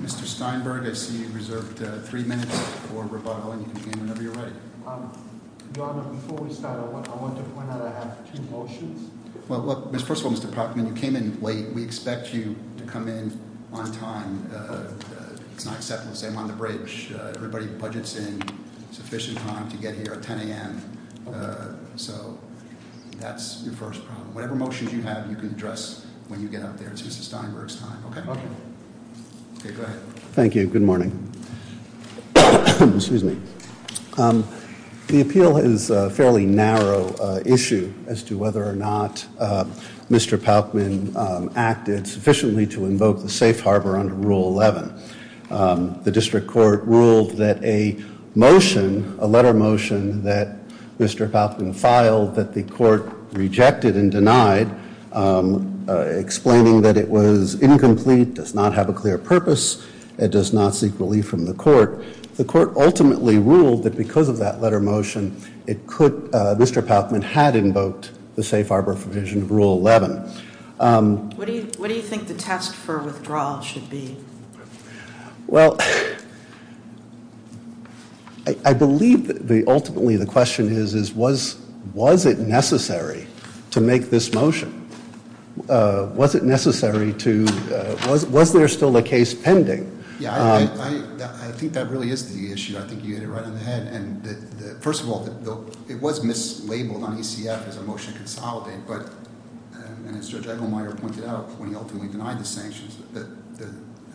Mr. Steinberg, I see you reserved three minutes for rebuttal, and you can begin whenever you're ready. Your Honor, before we start, I want to point out that I have two motions. First of all, Mr. Proctor, you came in late. We expect you to come in on time. It's not acceptable to say I'm on the bridge. Everybody budgets in sufficient time to get here at 10 a.m., so that's your first problem. Whatever motions you have, you can address when you get up there. It's Mr. Steinberg's time. Okay? Okay. Okay, go ahead. Thank you. Good morning. Excuse me. The appeal is a fairly narrow issue as to whether or not Mr. Paukman acted sufficiently to invoke the safe harbor under Rule 11. The district court ruled that a motion, a letter motion that Mr. Paukman filed that the court rejected and denied, explaining that it was incomplete, does not have a clear purpose, and does not seek relief from the court. The court ultimately ruled that because of that letter motion, Mr. Paukman had invoked the safe harbor provision of Rule 11. What do you think the test for withdrawal should be? Well, I believe ultimately the question is, was it necessary to make this motion? Was it necessary to, was there still a case pending? Yeah, I think that really is the issue. I think you hit it right on the head. First of all, it was mislabeled on ECF as a motion to consolidate, but as Judge Engelmeyer pointed out when he ultimately denied the sanctions, the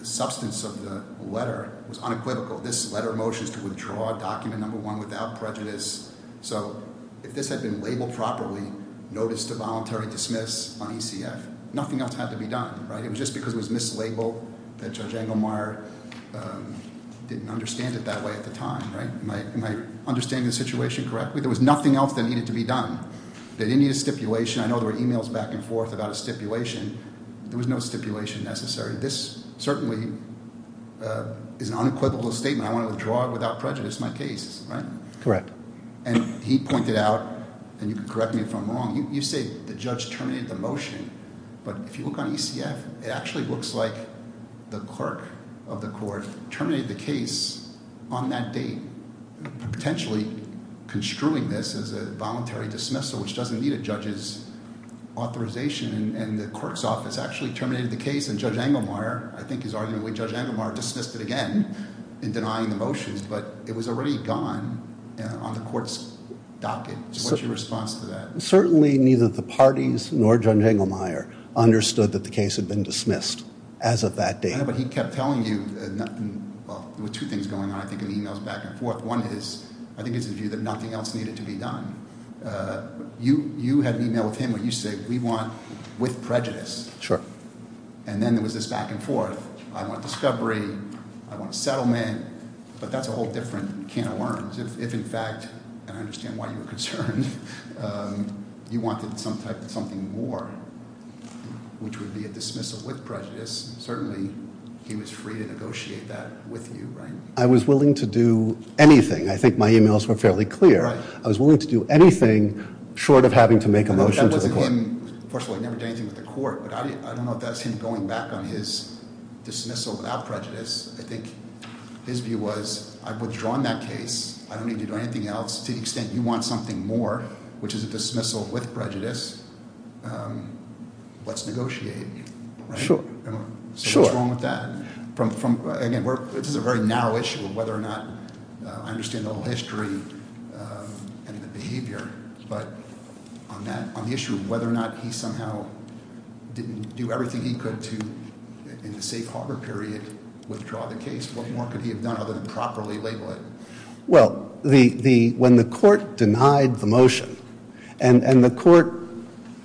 substance of the letter was unequivocal. This letter motion is to withdraw document number one without prejudice. So if this had been labeled properly, notice to voluntary dismiss on ECF, nothing else had to be done, right? It was just because it was mislabeled that Judge Engelmeyer didn't understand it that way at the time, right? Am I understanding the situation correctly? There was nothing else that needed to be done. They didn't need a stipulation. I know there were emails back and forth about a stipulation. There was no stipulation necessary. This certainly is an unequivocal statement. I want to withdraw without prejudice my case, right? Correct. And he pointed out, and you can correct me if I'm wrong, you say the judge terminated the motion, but if you look on ECF, it actually looks like the clerk of the court terminated the case on that date, potentially construing this as a voluntary dismissal, which doesn't need a judge's authorization, and the clerk's office actually terminated the case, and Judge Engelmeyer, I think his argument, Judge Engelmeyer dismissed it again in denying the motions, but it was already gone on the court's docket. What's your response to that? Certainly neither the parties nor Judge Engelmeyer understood that the case had been dismissed as of that date. Yeah, but he kept telling you, well, there were two things going on, I think, in the emails back and forth. One is, I think it's his view that nothing else needed to be done. You had an email with him where you said we want with prejudice. Sure. And then there was this back and forth, I want discovery, I want settlement, but that's a whole different can of worms. If, in fact, and I understand why you were concerned, you wanted some type of something more, which would be a dismissal with prejudice, certainly he was free to negotiate that with you, right? I was willing to do anything. I think my emails were fairly clear. Right. I was willing to do anything short of having to make a motion to the court. No, that wasn't him. First of all, he never did anything with the court, but I don't know if that's him going back on his dismissal without prejudice. I think his view was, I've withdrawn that case. I don't need to do anything else. To the extent you want something more, which is a dismissal with prejudice, let's negotiate, right? Sure. So what's wrong with that? Again, this is a very narrow issue of whether or not, I understand the whole history and the behavior, but on the issue of whether or not he somehow didn't do everything he could to, in the safe harbor period, withdraw the case, what more could he have done other than properly label it? Well, when the court denied the motion, and the court,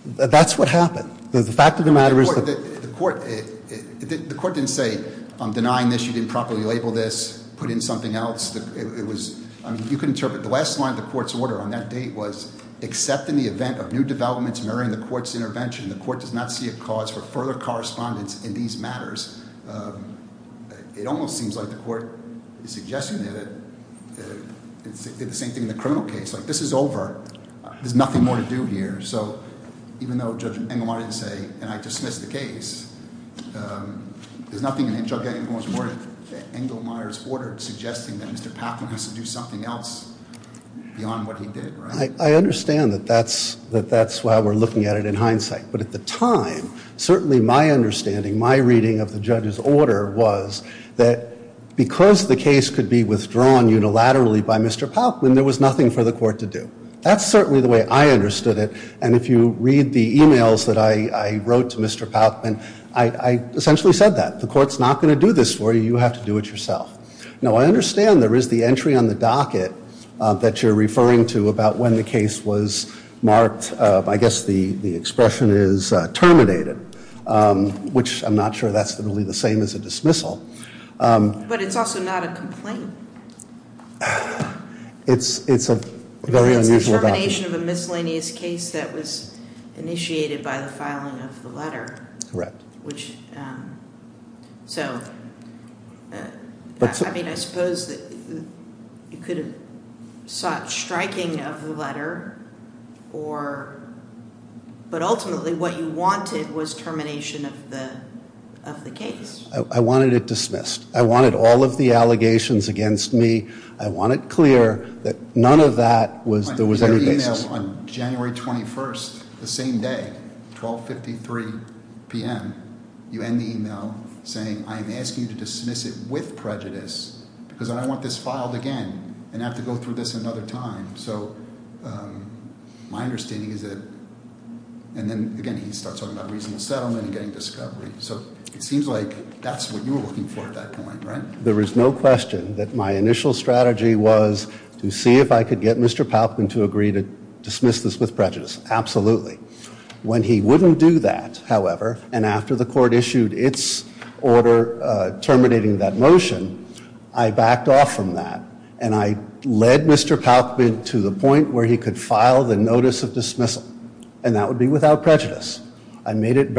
that's what happened. The fact of the matter is- The court didn't say, I'm denying this, you didn't properly label this, put in something else. It was, you can interpret the last line of the court's order on that date was, except in the event of new developments mirroring the court's intervention, the court does not see a cause for further correspondence in these matters. It almost seems like the court is suggesting that it did the same thing in the criminal case. Like, this is over. There's nothing more to do here. So even though Judge Engelmeyer didn't say, and I dismiss the case, there's nothing in Judge Engelmeyer's order suggesting that Mr. Patham has to do something else beyond what he did, right? I understand that that's why we're looking at it in hindsight. But at the time, certainly my understanding, my reading of the judge's order was that because the case could be withdrawn unilaterally by Mr. Palkman, there was nothing for the court to do. That's certainly the way I understood it. And if you read the e-mails that I wrote to Mr. Palkman, I essentially said that. The court's not going to do this for you. You have to do it yourself. Now, I understand there is the entry on the docket that you're referring to about when the case was marked. I guess the expression is terminated, which I'm not sure that's really the same as a dismissal. But it's also not a complaint. It's a very unusual document. It's a termination of a miscellaneous case that was initiated by the filing of the letter. Correct. I mean, I suppose you could have sought striking of the letter, but ultimately what you wanted was termination of the case. I wanted it dismissed. I wanted all of the allegations against me. I want it clear that none of that was there was any basis. On January 21st, the same day, 1253 p.m., you end the e-mail saying, I am asking you to dismiss it with prejudice because I don't want this filed again and have to go through this another time. So my understanding is that, and then again, he starts talking about reasonable settlement and getting discovery. So it seems like that's what you were looking for at that point, right? There is no question that my initial strategy was to see if I could get Mr. Palkman to agree to dismiss this with prejudice. Absolutely. When he wouldn't do that, however, and after the court issued its order terminating that motion, I backed off from that. And I led Mr. Palkman to the point where he could file the notice of dismissal. And that would be without prejudice. Is it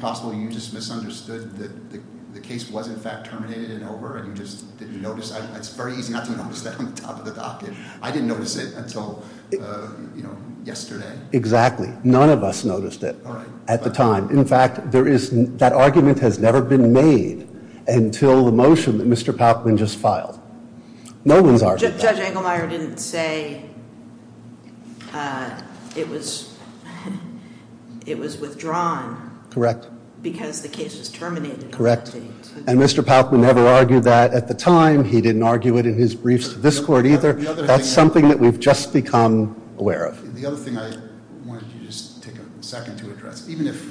possible you just misunderstood that the case was in fact terminated and over and you just didn't notice? It's very easy not to notice that on the top of the docket. I didn't notice it until yesterday. Exactly. None of us noticed it at the time. In fact, that argument has never been made until the motion that Mr. Palkman just filed. No one's argued that. Judge Engelmeyer didn't say it was withdrawn. Correct. Because the case is terminated. Correct. And Mr. Palkman never argued that at the time. He didn't argue it in his briefs to this court either. That's something that we've just become aware of. The other thing I wanted to just take a second to address. Even if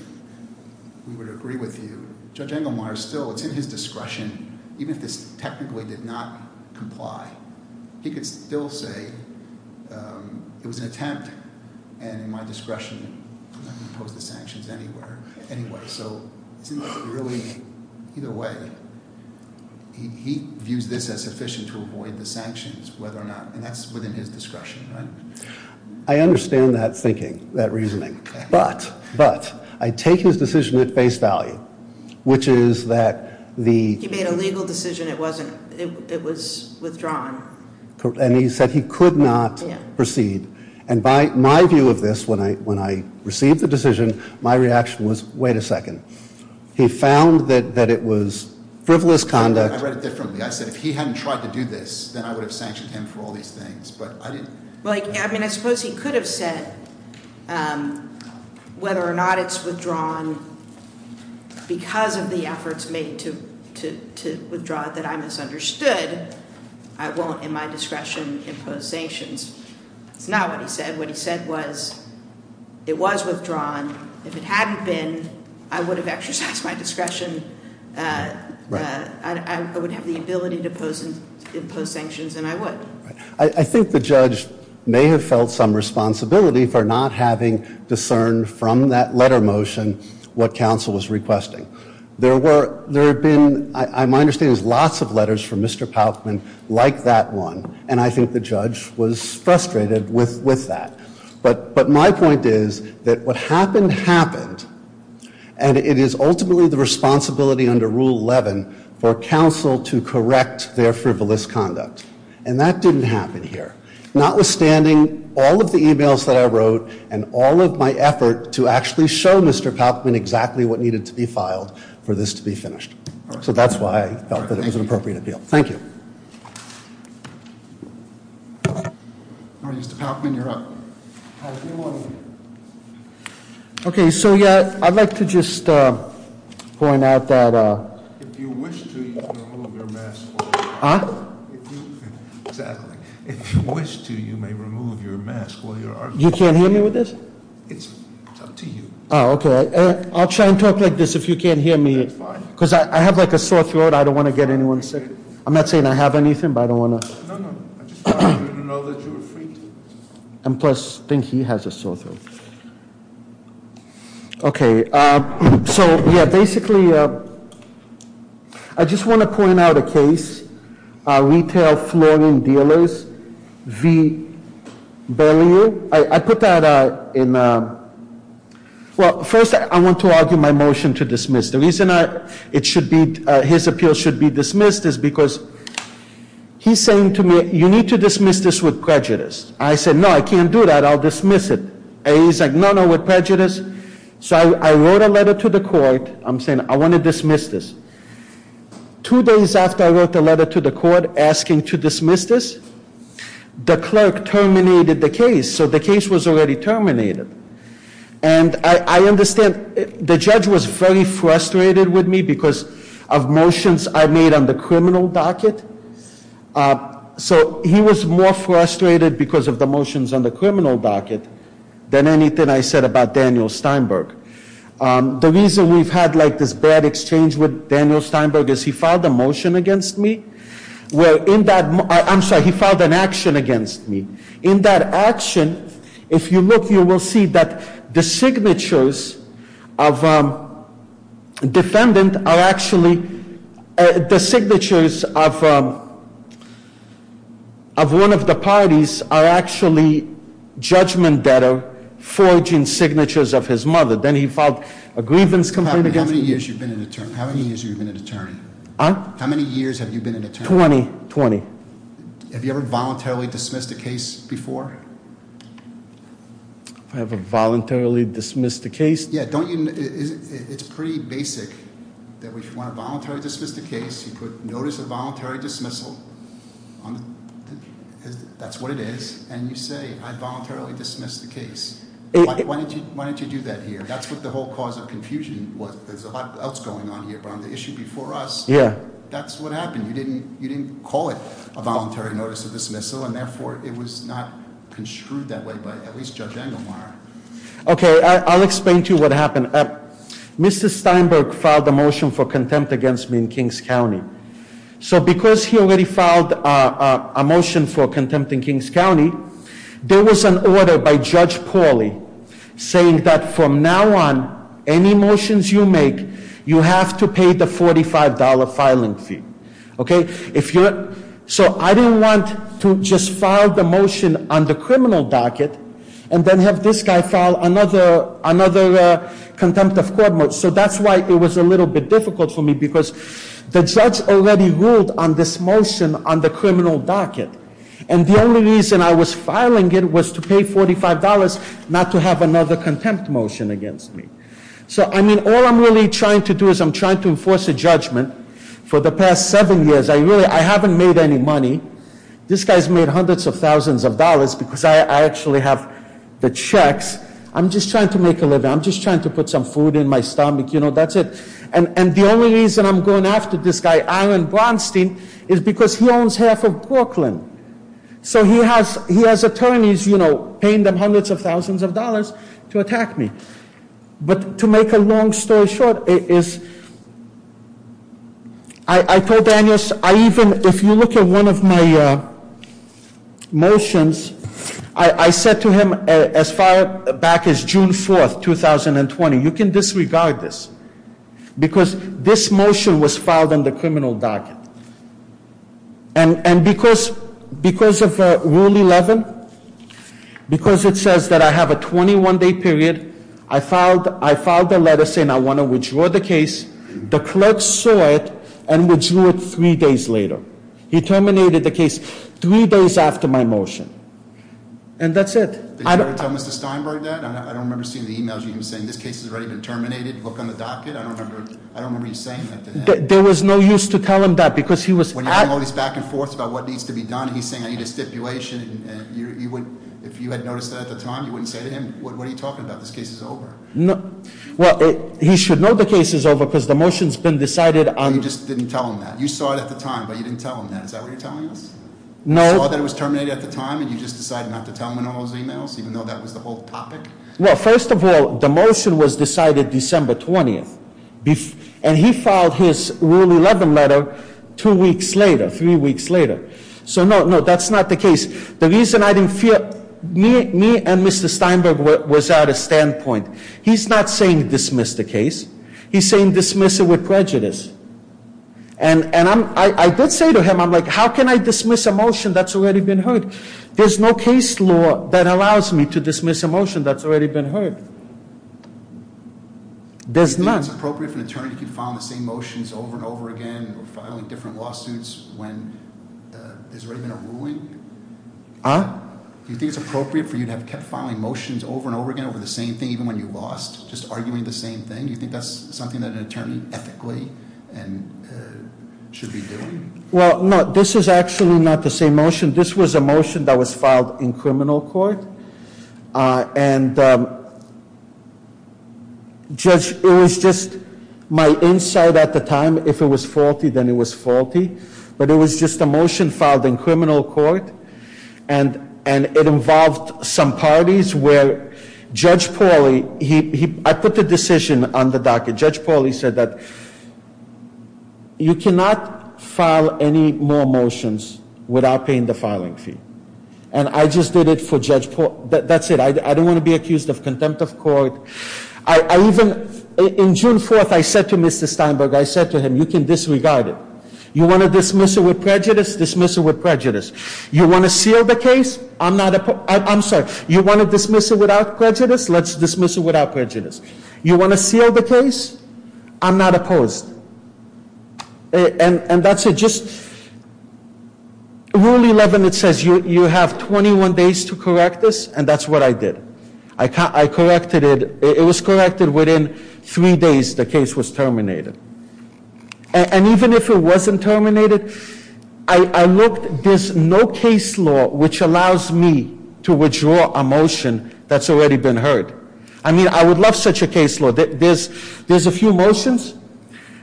we would agree with you, Judge Engelmeyer still, it's in his discretion. Even if this technically did not comply, he could still say it was an attempt. And in my discretion, I'm not going to impose the sanctions anywhere. Anyway, so really, either way, he views this as sufficient to avoid the sanctions, whether or not. And that's within his discretion, right? I understand that thinking, that reasoning. But I take his decision at face value, which is that the... He made a legal decision. It was withdrawn. And he said he could not proceed. And by my view of this, when I received the decision, my reaction was, wait a second. He found that it was frivolous conduct. I read it differently. I said if he hadn't tried to do this, then I would have sanctioned him for all these things. I suppose he could have said whether or not it's withdrawn because of the efforts made to withdraw it that I misunderstood. I won't, in my discretion, impose sanctions. That's not what he said. What he said was it was withdrawn. If it hadn't been, I would have exercised my discretion. I would have the ability to impose sanctions, and I would. I think the judge may have felt some responsibility for not having discerned from that letter motion what counsel was requesting. There had been, my understanding, lots of letters from Mr. Palkman like that one, and I think the judge was frustrated with that. But my point is that what happened, happened. And it is ultimately the responsibility under Rule 11 for counsel to correct their frivolous conduct. And that didn't happen here. Notwithstanding all of the emails that I wrote and all of my effort to actually show Mr. Palkman exactly what needed to be filed for this to be finished. So that's why I felt that it was an appropriate appeal. Thank you. All right, Mr. Palkman, you're up. Hi, good morning. Okay, so yeah, I'd like to just point out that- If you wish to, you can remove your mask. Huh? Exactly. If you wish to, you may remove your mask while you're arguing. You can't hear me with this? It's up to you. Oh, okay. I'll try and talk like this if you can't hear me. That's fine. Because I have like a sore throat. I don't want to get anyone sick. I'm not saying I have anything, but I don't want to- No, no. I just wanted you to know that you were free to. And plus, I think he has a sore throat. Okay, so yeah, basically, I just want to point out a case. Retail Flooring Dealers v. Berlioz. I put that in- Well, first, I want to argue my motion to dismiss. The reason his appeal should be dismissed is because he's saying to me, you need to dismiss this with prejudice. I said, no, I can't do that. I'll dismiss it. He's like, no, no, with prejudice. So I wrote a letter to the court. I'm saying I want to dismiss this. Two days after I wrote the letter to the court asking to dismiss this, the clerk terminated the case. So the case was already terminated. And I understand the judge was very frustrated with me because of motions I made on the criminal docket. So he was more frustrated because of the motions on the criminal docket than anything I said about Daniel Steinberg. The reason we've had, like, this bad exchange with Daniel Steinberg is he filed a motion against me. Well, in that- I'm sorry, he filed an action against me. In that action, if you look, you will see that the signatures of defendant are actually- The signatures of one of the parties are actually judgment that are forging signatures of his mother. Then he filed a grievance complaint against me. How many years have you been an attorney? Huh? How many years have you been an attorney? 20. 20. Have you ever voluntarily dismissed a case before? Have I ever voluntarily dismissed a case? Yeah, don't you- it's pretty basic that if you want to voluntarily dismiss the case, you put notice of voluntary dismissal. That's what it is. And you say, I voluntarily dismissed the case. Why didn't you do that here? That's what the whole cause of confusion was. There's a lot else going on here, but on the issue before us, that's what happened. You didn't call it a voluntary notice of dismissal, and therefore, it was not construed that way by at least Judge Engelmeyer. Okay, I'll explain to you what happened. Mr. Steinberg filed a motion for contempt against me in Kings County. So because he already filed a motion for contempt in Kings County, there was an order by Judge Pauly saying that from now on, any motions you make, you have to pay the $45 filing fee. So I didn't want to just file the motion on the criminal docket and then have this guy file another contempt of court motion. So that's why it was a little bit difficult for me because the judge already ruled on this motion on the criminal docket. And the only reason I was filing it was to pay $45, not to have another contempt motion against me. So I mean, all I'm really trying to do is I'm trying to enforce a judgment. For the past seven years, I haven't made any money. This guy's made hundreds of thousands of dollars because I actually have the checks. I'm just trying to make a living. I'm just trying to put some food in my stomach. That's it. And the only reason I'm going after this guy, Aaron Braunstein, is because he owns half of Brooklyn. So he has attorneys paying them hundreds of thousands of dollars to attack me. But to make a long story short, I told Daniel, if you look at one of my motions, I said to him, as far back as June 4th, 2020, you can disregard this. Because this motion was filed on the criminal docket. And because of Rule 11, because it says that I have a 21-day period, I filed a letter saying I want to withdraw the case. The clerk saw it and withdrew it three days later. He terminated the case three days after my motion. And that's it. Did you ever tell Mr. Steinberg that? I don't remember seeing the e-mails where he was saying, this case has already been terminated. I don't remember you saying that to him. There was no use to tell him that, because he was- When you bring all these back and forth about what needs to be done, he's saying I need a stipulation. If you had noticed that at the time, you wouldn't say to him, what are you talking about? This case is over. Well, he should know the case is over, because the motion's been decided on- You just didn't tell him that. You saw it at the time, but you didn't tell him that. Is that what you're telling us? No. You saw that it was terminated at the time, and you just decided not to tell him in all those e-mails, even though that was the whole topic? Well, first of all, the motion was decided December 20th. And he filed his Rule 11 letter two weeks later, three weeks later. So, no, that's not the case. The reason I didn't feel- Me and Mr. Steinberg was at a standpoint. He's not saying dismiss the case. He's saying dismiss it with prejudice. And I did say to him, I'm like, how can I dismiss a motion that's already been heard? There's no case law that allows me to dismiss a motion that's already been heard. There's none. Do you think it's appropriate for an attorney to keep filing the same motions over and over again, or filing different lawsuits when there's already been a ruling? Huh? Do you think it's appropriate for you to have kept filing motions over and over again over the same thing, even when you lost, just arguing the same thing? Do you think that's something that an attorney, ethically, should be doing? Well, no, this is actually not the same motion. This was a motion that was filed in criminal court. And, Judge, it was just my insight at the time. If it was faulty, then it was faulty. But it was just a motion filed in criminal court. And it involved some parties where Judge Pauly- I put the decision on the docket. Judge Pauly said that you cannot file any more motions without paying the filing fee. And I just did it for Judge Pauly. That's it. I don't want to be accused of contempt of court. I even- in June 4th, I said to Mr. Steinberg, I said to him, you can disregard it. You want to dismiss it with prejudice? Dismiss it with prejudice. You want to seal the case? I'm not- I'm sorry. You want to dismiss it without prejudice? Let's dismiss it without prejudice. You want to seal the case? I'm not opposed. And that's it. Rule 11, it says you have 21 days to correct this, and that's what I did. I corrected it. It was corrected within three days the case was terminated. And even if it wasn't terminated, I looked. There's no case law which allows me to withdraw a motion that's already been heard. I mean, I would love such a case law. There's a few motions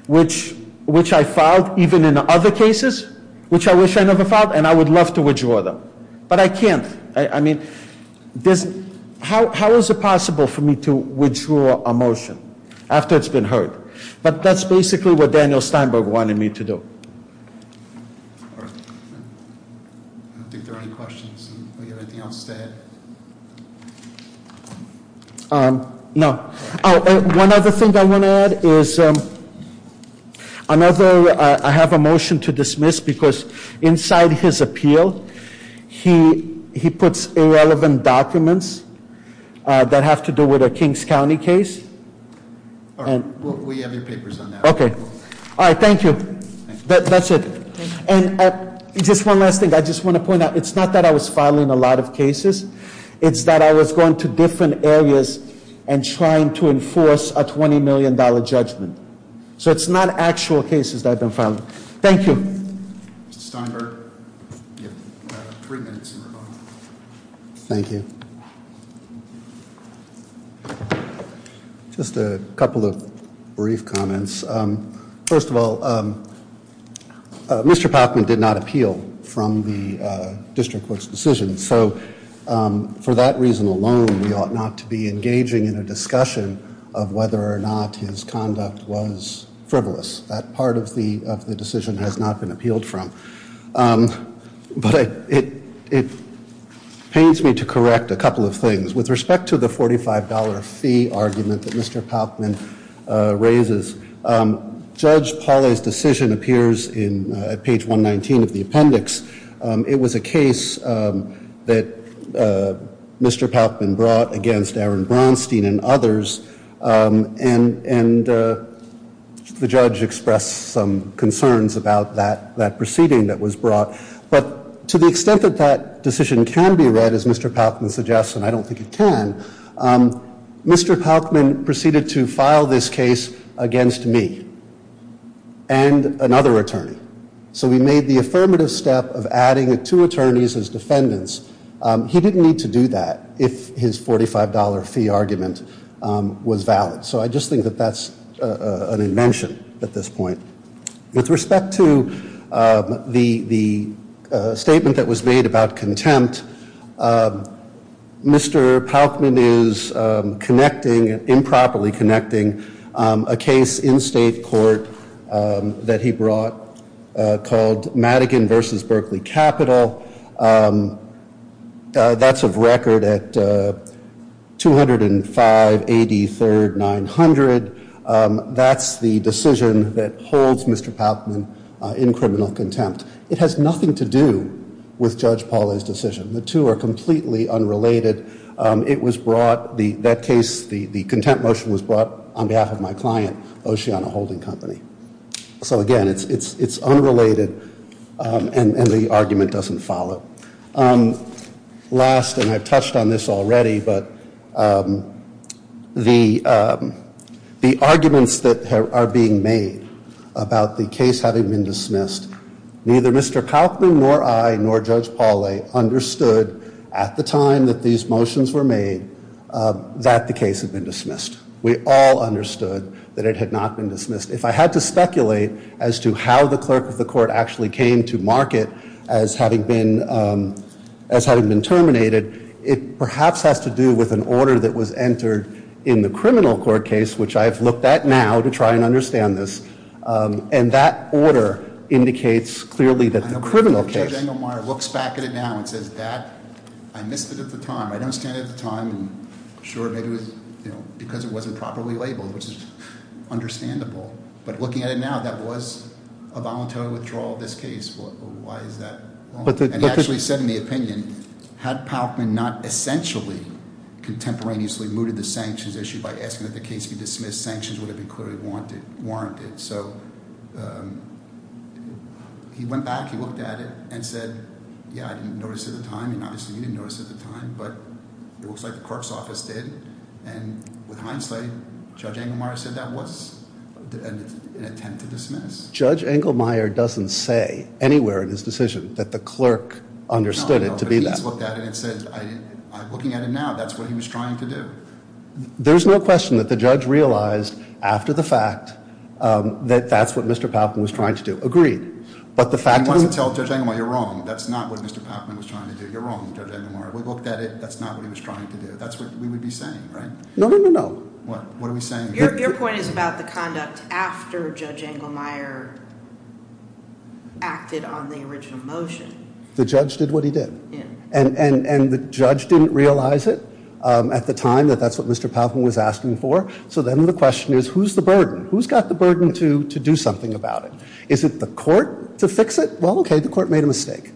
which I filed, even in other cases, which I wish I never filed, and I would love to withdraw them. But I can't. I mean, how is it possible for me to withdraw a motion after it's been heard? But that's basically what Daniel Steinberg wanted me to do. I don't think there are any questions. Do we have anything else to add? No. One other thing I want to add is I have a motion to dismiss because inside his appeal, he puts irrelevant documents that have to do with a Kings County case. All right. We have your papers on that. Okay. All right. Thank you. That's it. And just one last thing. I just want to point out, it's not that I was filing a lot of cases. It's that I was going to different areas and trying to enforce a $20 million judgment. So it's not actual cases that I've been filing. Thank you. Mr. Steinberg, you have three minutes. Thank you. Just a couple of brief comments. First of all, Mr. Palkman did not appeal from the district court's decision. So for that reason alone, we ought not to be engaging in a discussion of whether or not his conduct was frivolous. That part of the decision has not been appealed from. But it pains me to correct a couple of things. With respect to the $45 fee argument that Mr. Palkman raises, Judge Pauley's decision appears in page 119 of the appendix. It was a case that Mr. Palkman brought against Aaron Braunstein and others. And the judge expressed some concerns about that proceeding that was brought. But to the extent that that decision can be read, as Mr. Palkman suggests, and I don't think it can, Mr. Palkman proceeded to file this case against me and another attorney. So we made the affirmative step of adding two attorneys as defendants. He didn't need to do that if his $45 fee argument was valid. So I just think that that's an invention at this point. With respect to the statement that was made about contempt, Mr. Palkman is connecting, improperly connecting, a case in state court that he brought called Madigan v. Berkeley Capital. That's a record at 205 AD 3rd 900. That's the decision that holds Mr. Palkman in criminal contempt. It has nothing to do with Judge Pauley's decision. The two are completely unrelated. It was brought, that case, the contempt motion was brought on behalf of my client, Oceana Holding Company. So again, it's unrelated and the argument doesn't follow. Last, and I've touched on this already, but the arguments that are being made about the case having been dismissed, neither Mr. Palkman nor I nor Judge Pauley understood at the time that these motions were made that the case had been dismissed. We all understood that it had not been dismissed. If I had to speculate as to how the clerk of the court actually came to mark it as having been terminated, it perhaps has to do with an order that was entered in the criminal court case, which I've looked at now to try and understand this. And that order indicates clearly that the criminal case- But looking at it now, that was a voluntary withdrawal of this case. Why is that? And he actually said in the opinion, had Palkman not essentially contemporaneously mooted the sanctions issue by asking that the case be dismissed, sanctions would have been clearly warranted. So he went back, he looked at it, and said, yeah, I didn't notice at the time. And obviously, he didn't notice at the time, but it looks like the clerk's office did. And with Heinzle, Judge Engelmeyer said that was an attempt to dismiss. Judge Engelmeyer doesn't say anywhere in his decision that the clerk understood it to be that. No, but he's looked at it and said, looking at it now, that's what he was trying to do. There's no question that the judge realized after the fact that that's what Mr. Palkman was trying to do. He wants to tell Judge Engelmeyer, you're wrong. That's not what Mr. Palkman was trying to do. You're wrong, Judge Engelmeyer. We looked at it. That's not what he was trying to do. But that's what we would be saying, right? No, no, no, no. What are we saying? Your point is about the conduct after Judge Engelmeyer acted on the original motion. The judge did what he did. And the judge didn't realize it at the time that that's what Mr. Palkman was asking for. So then the question is, who's the burden? Who's got the burden to do something about it? Well, okay, the court made a mistake.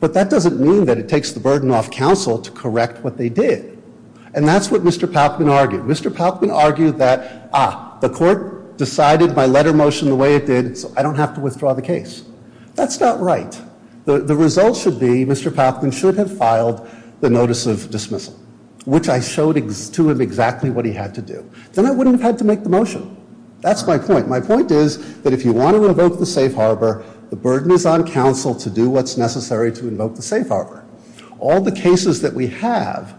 But that doesn't mean that it takes the burden off counsel to correct what they did. And that's what Mr. Palkman argued. Mr. Palkman argued that, ah, the court decided my letter motion the way it did, so I don't have to withdraw the case. That's not right. The result should be Mr. Palkman should have filed the notice of dismissal, which I showed to him exactly what he had to do. Then I wouldn't have had to make the motion. That's my point. My point is that if you want to invoke the safe harbor, the burden is on counsel to do what's necessary to invoke the safe harbor. All the cases that we have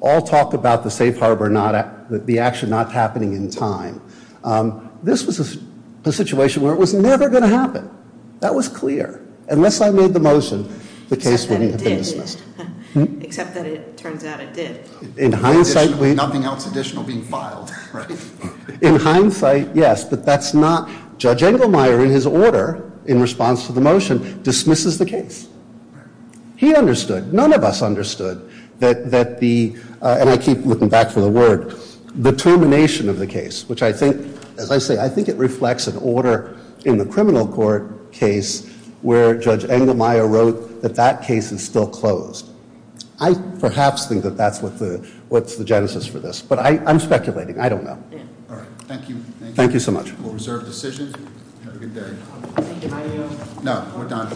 all talk about the safe harbor, the action not happening in time. This was a situation where it was never going to happen. That was clear. Unless I made the motion, the case wouldn't have been dismissed. Except that it did. Except that it turns out it did. Nothing else additional being filed, right? In hindsight, yes, but that's not, Judge Engelmeyer in his order in response to the motion dismisses the case. He understood, none of us understood that the, and I keep looking back for the word, the termination of the case, which I think, as I say, I think it reflects an order in the criminal court case where Judge Engelmeyer wrote that that case is still closed. I perhaps think that that's what's the genesis for this, but I'm speculating. I don't know. All right, thank you. Thank you so much. We'll reserve decision. Have a good day. Thank you. No, we're done.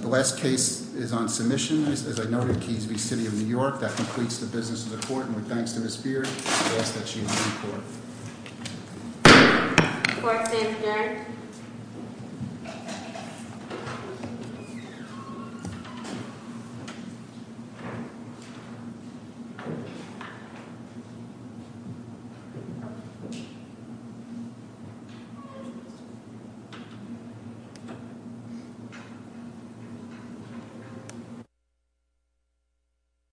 The last case is on submission. As I noted, Keyes v. City of New York. That completes the business of the court. And with thanks to Ms. Beard, I ask that she leave the court. The court stands adjourned. adjourned.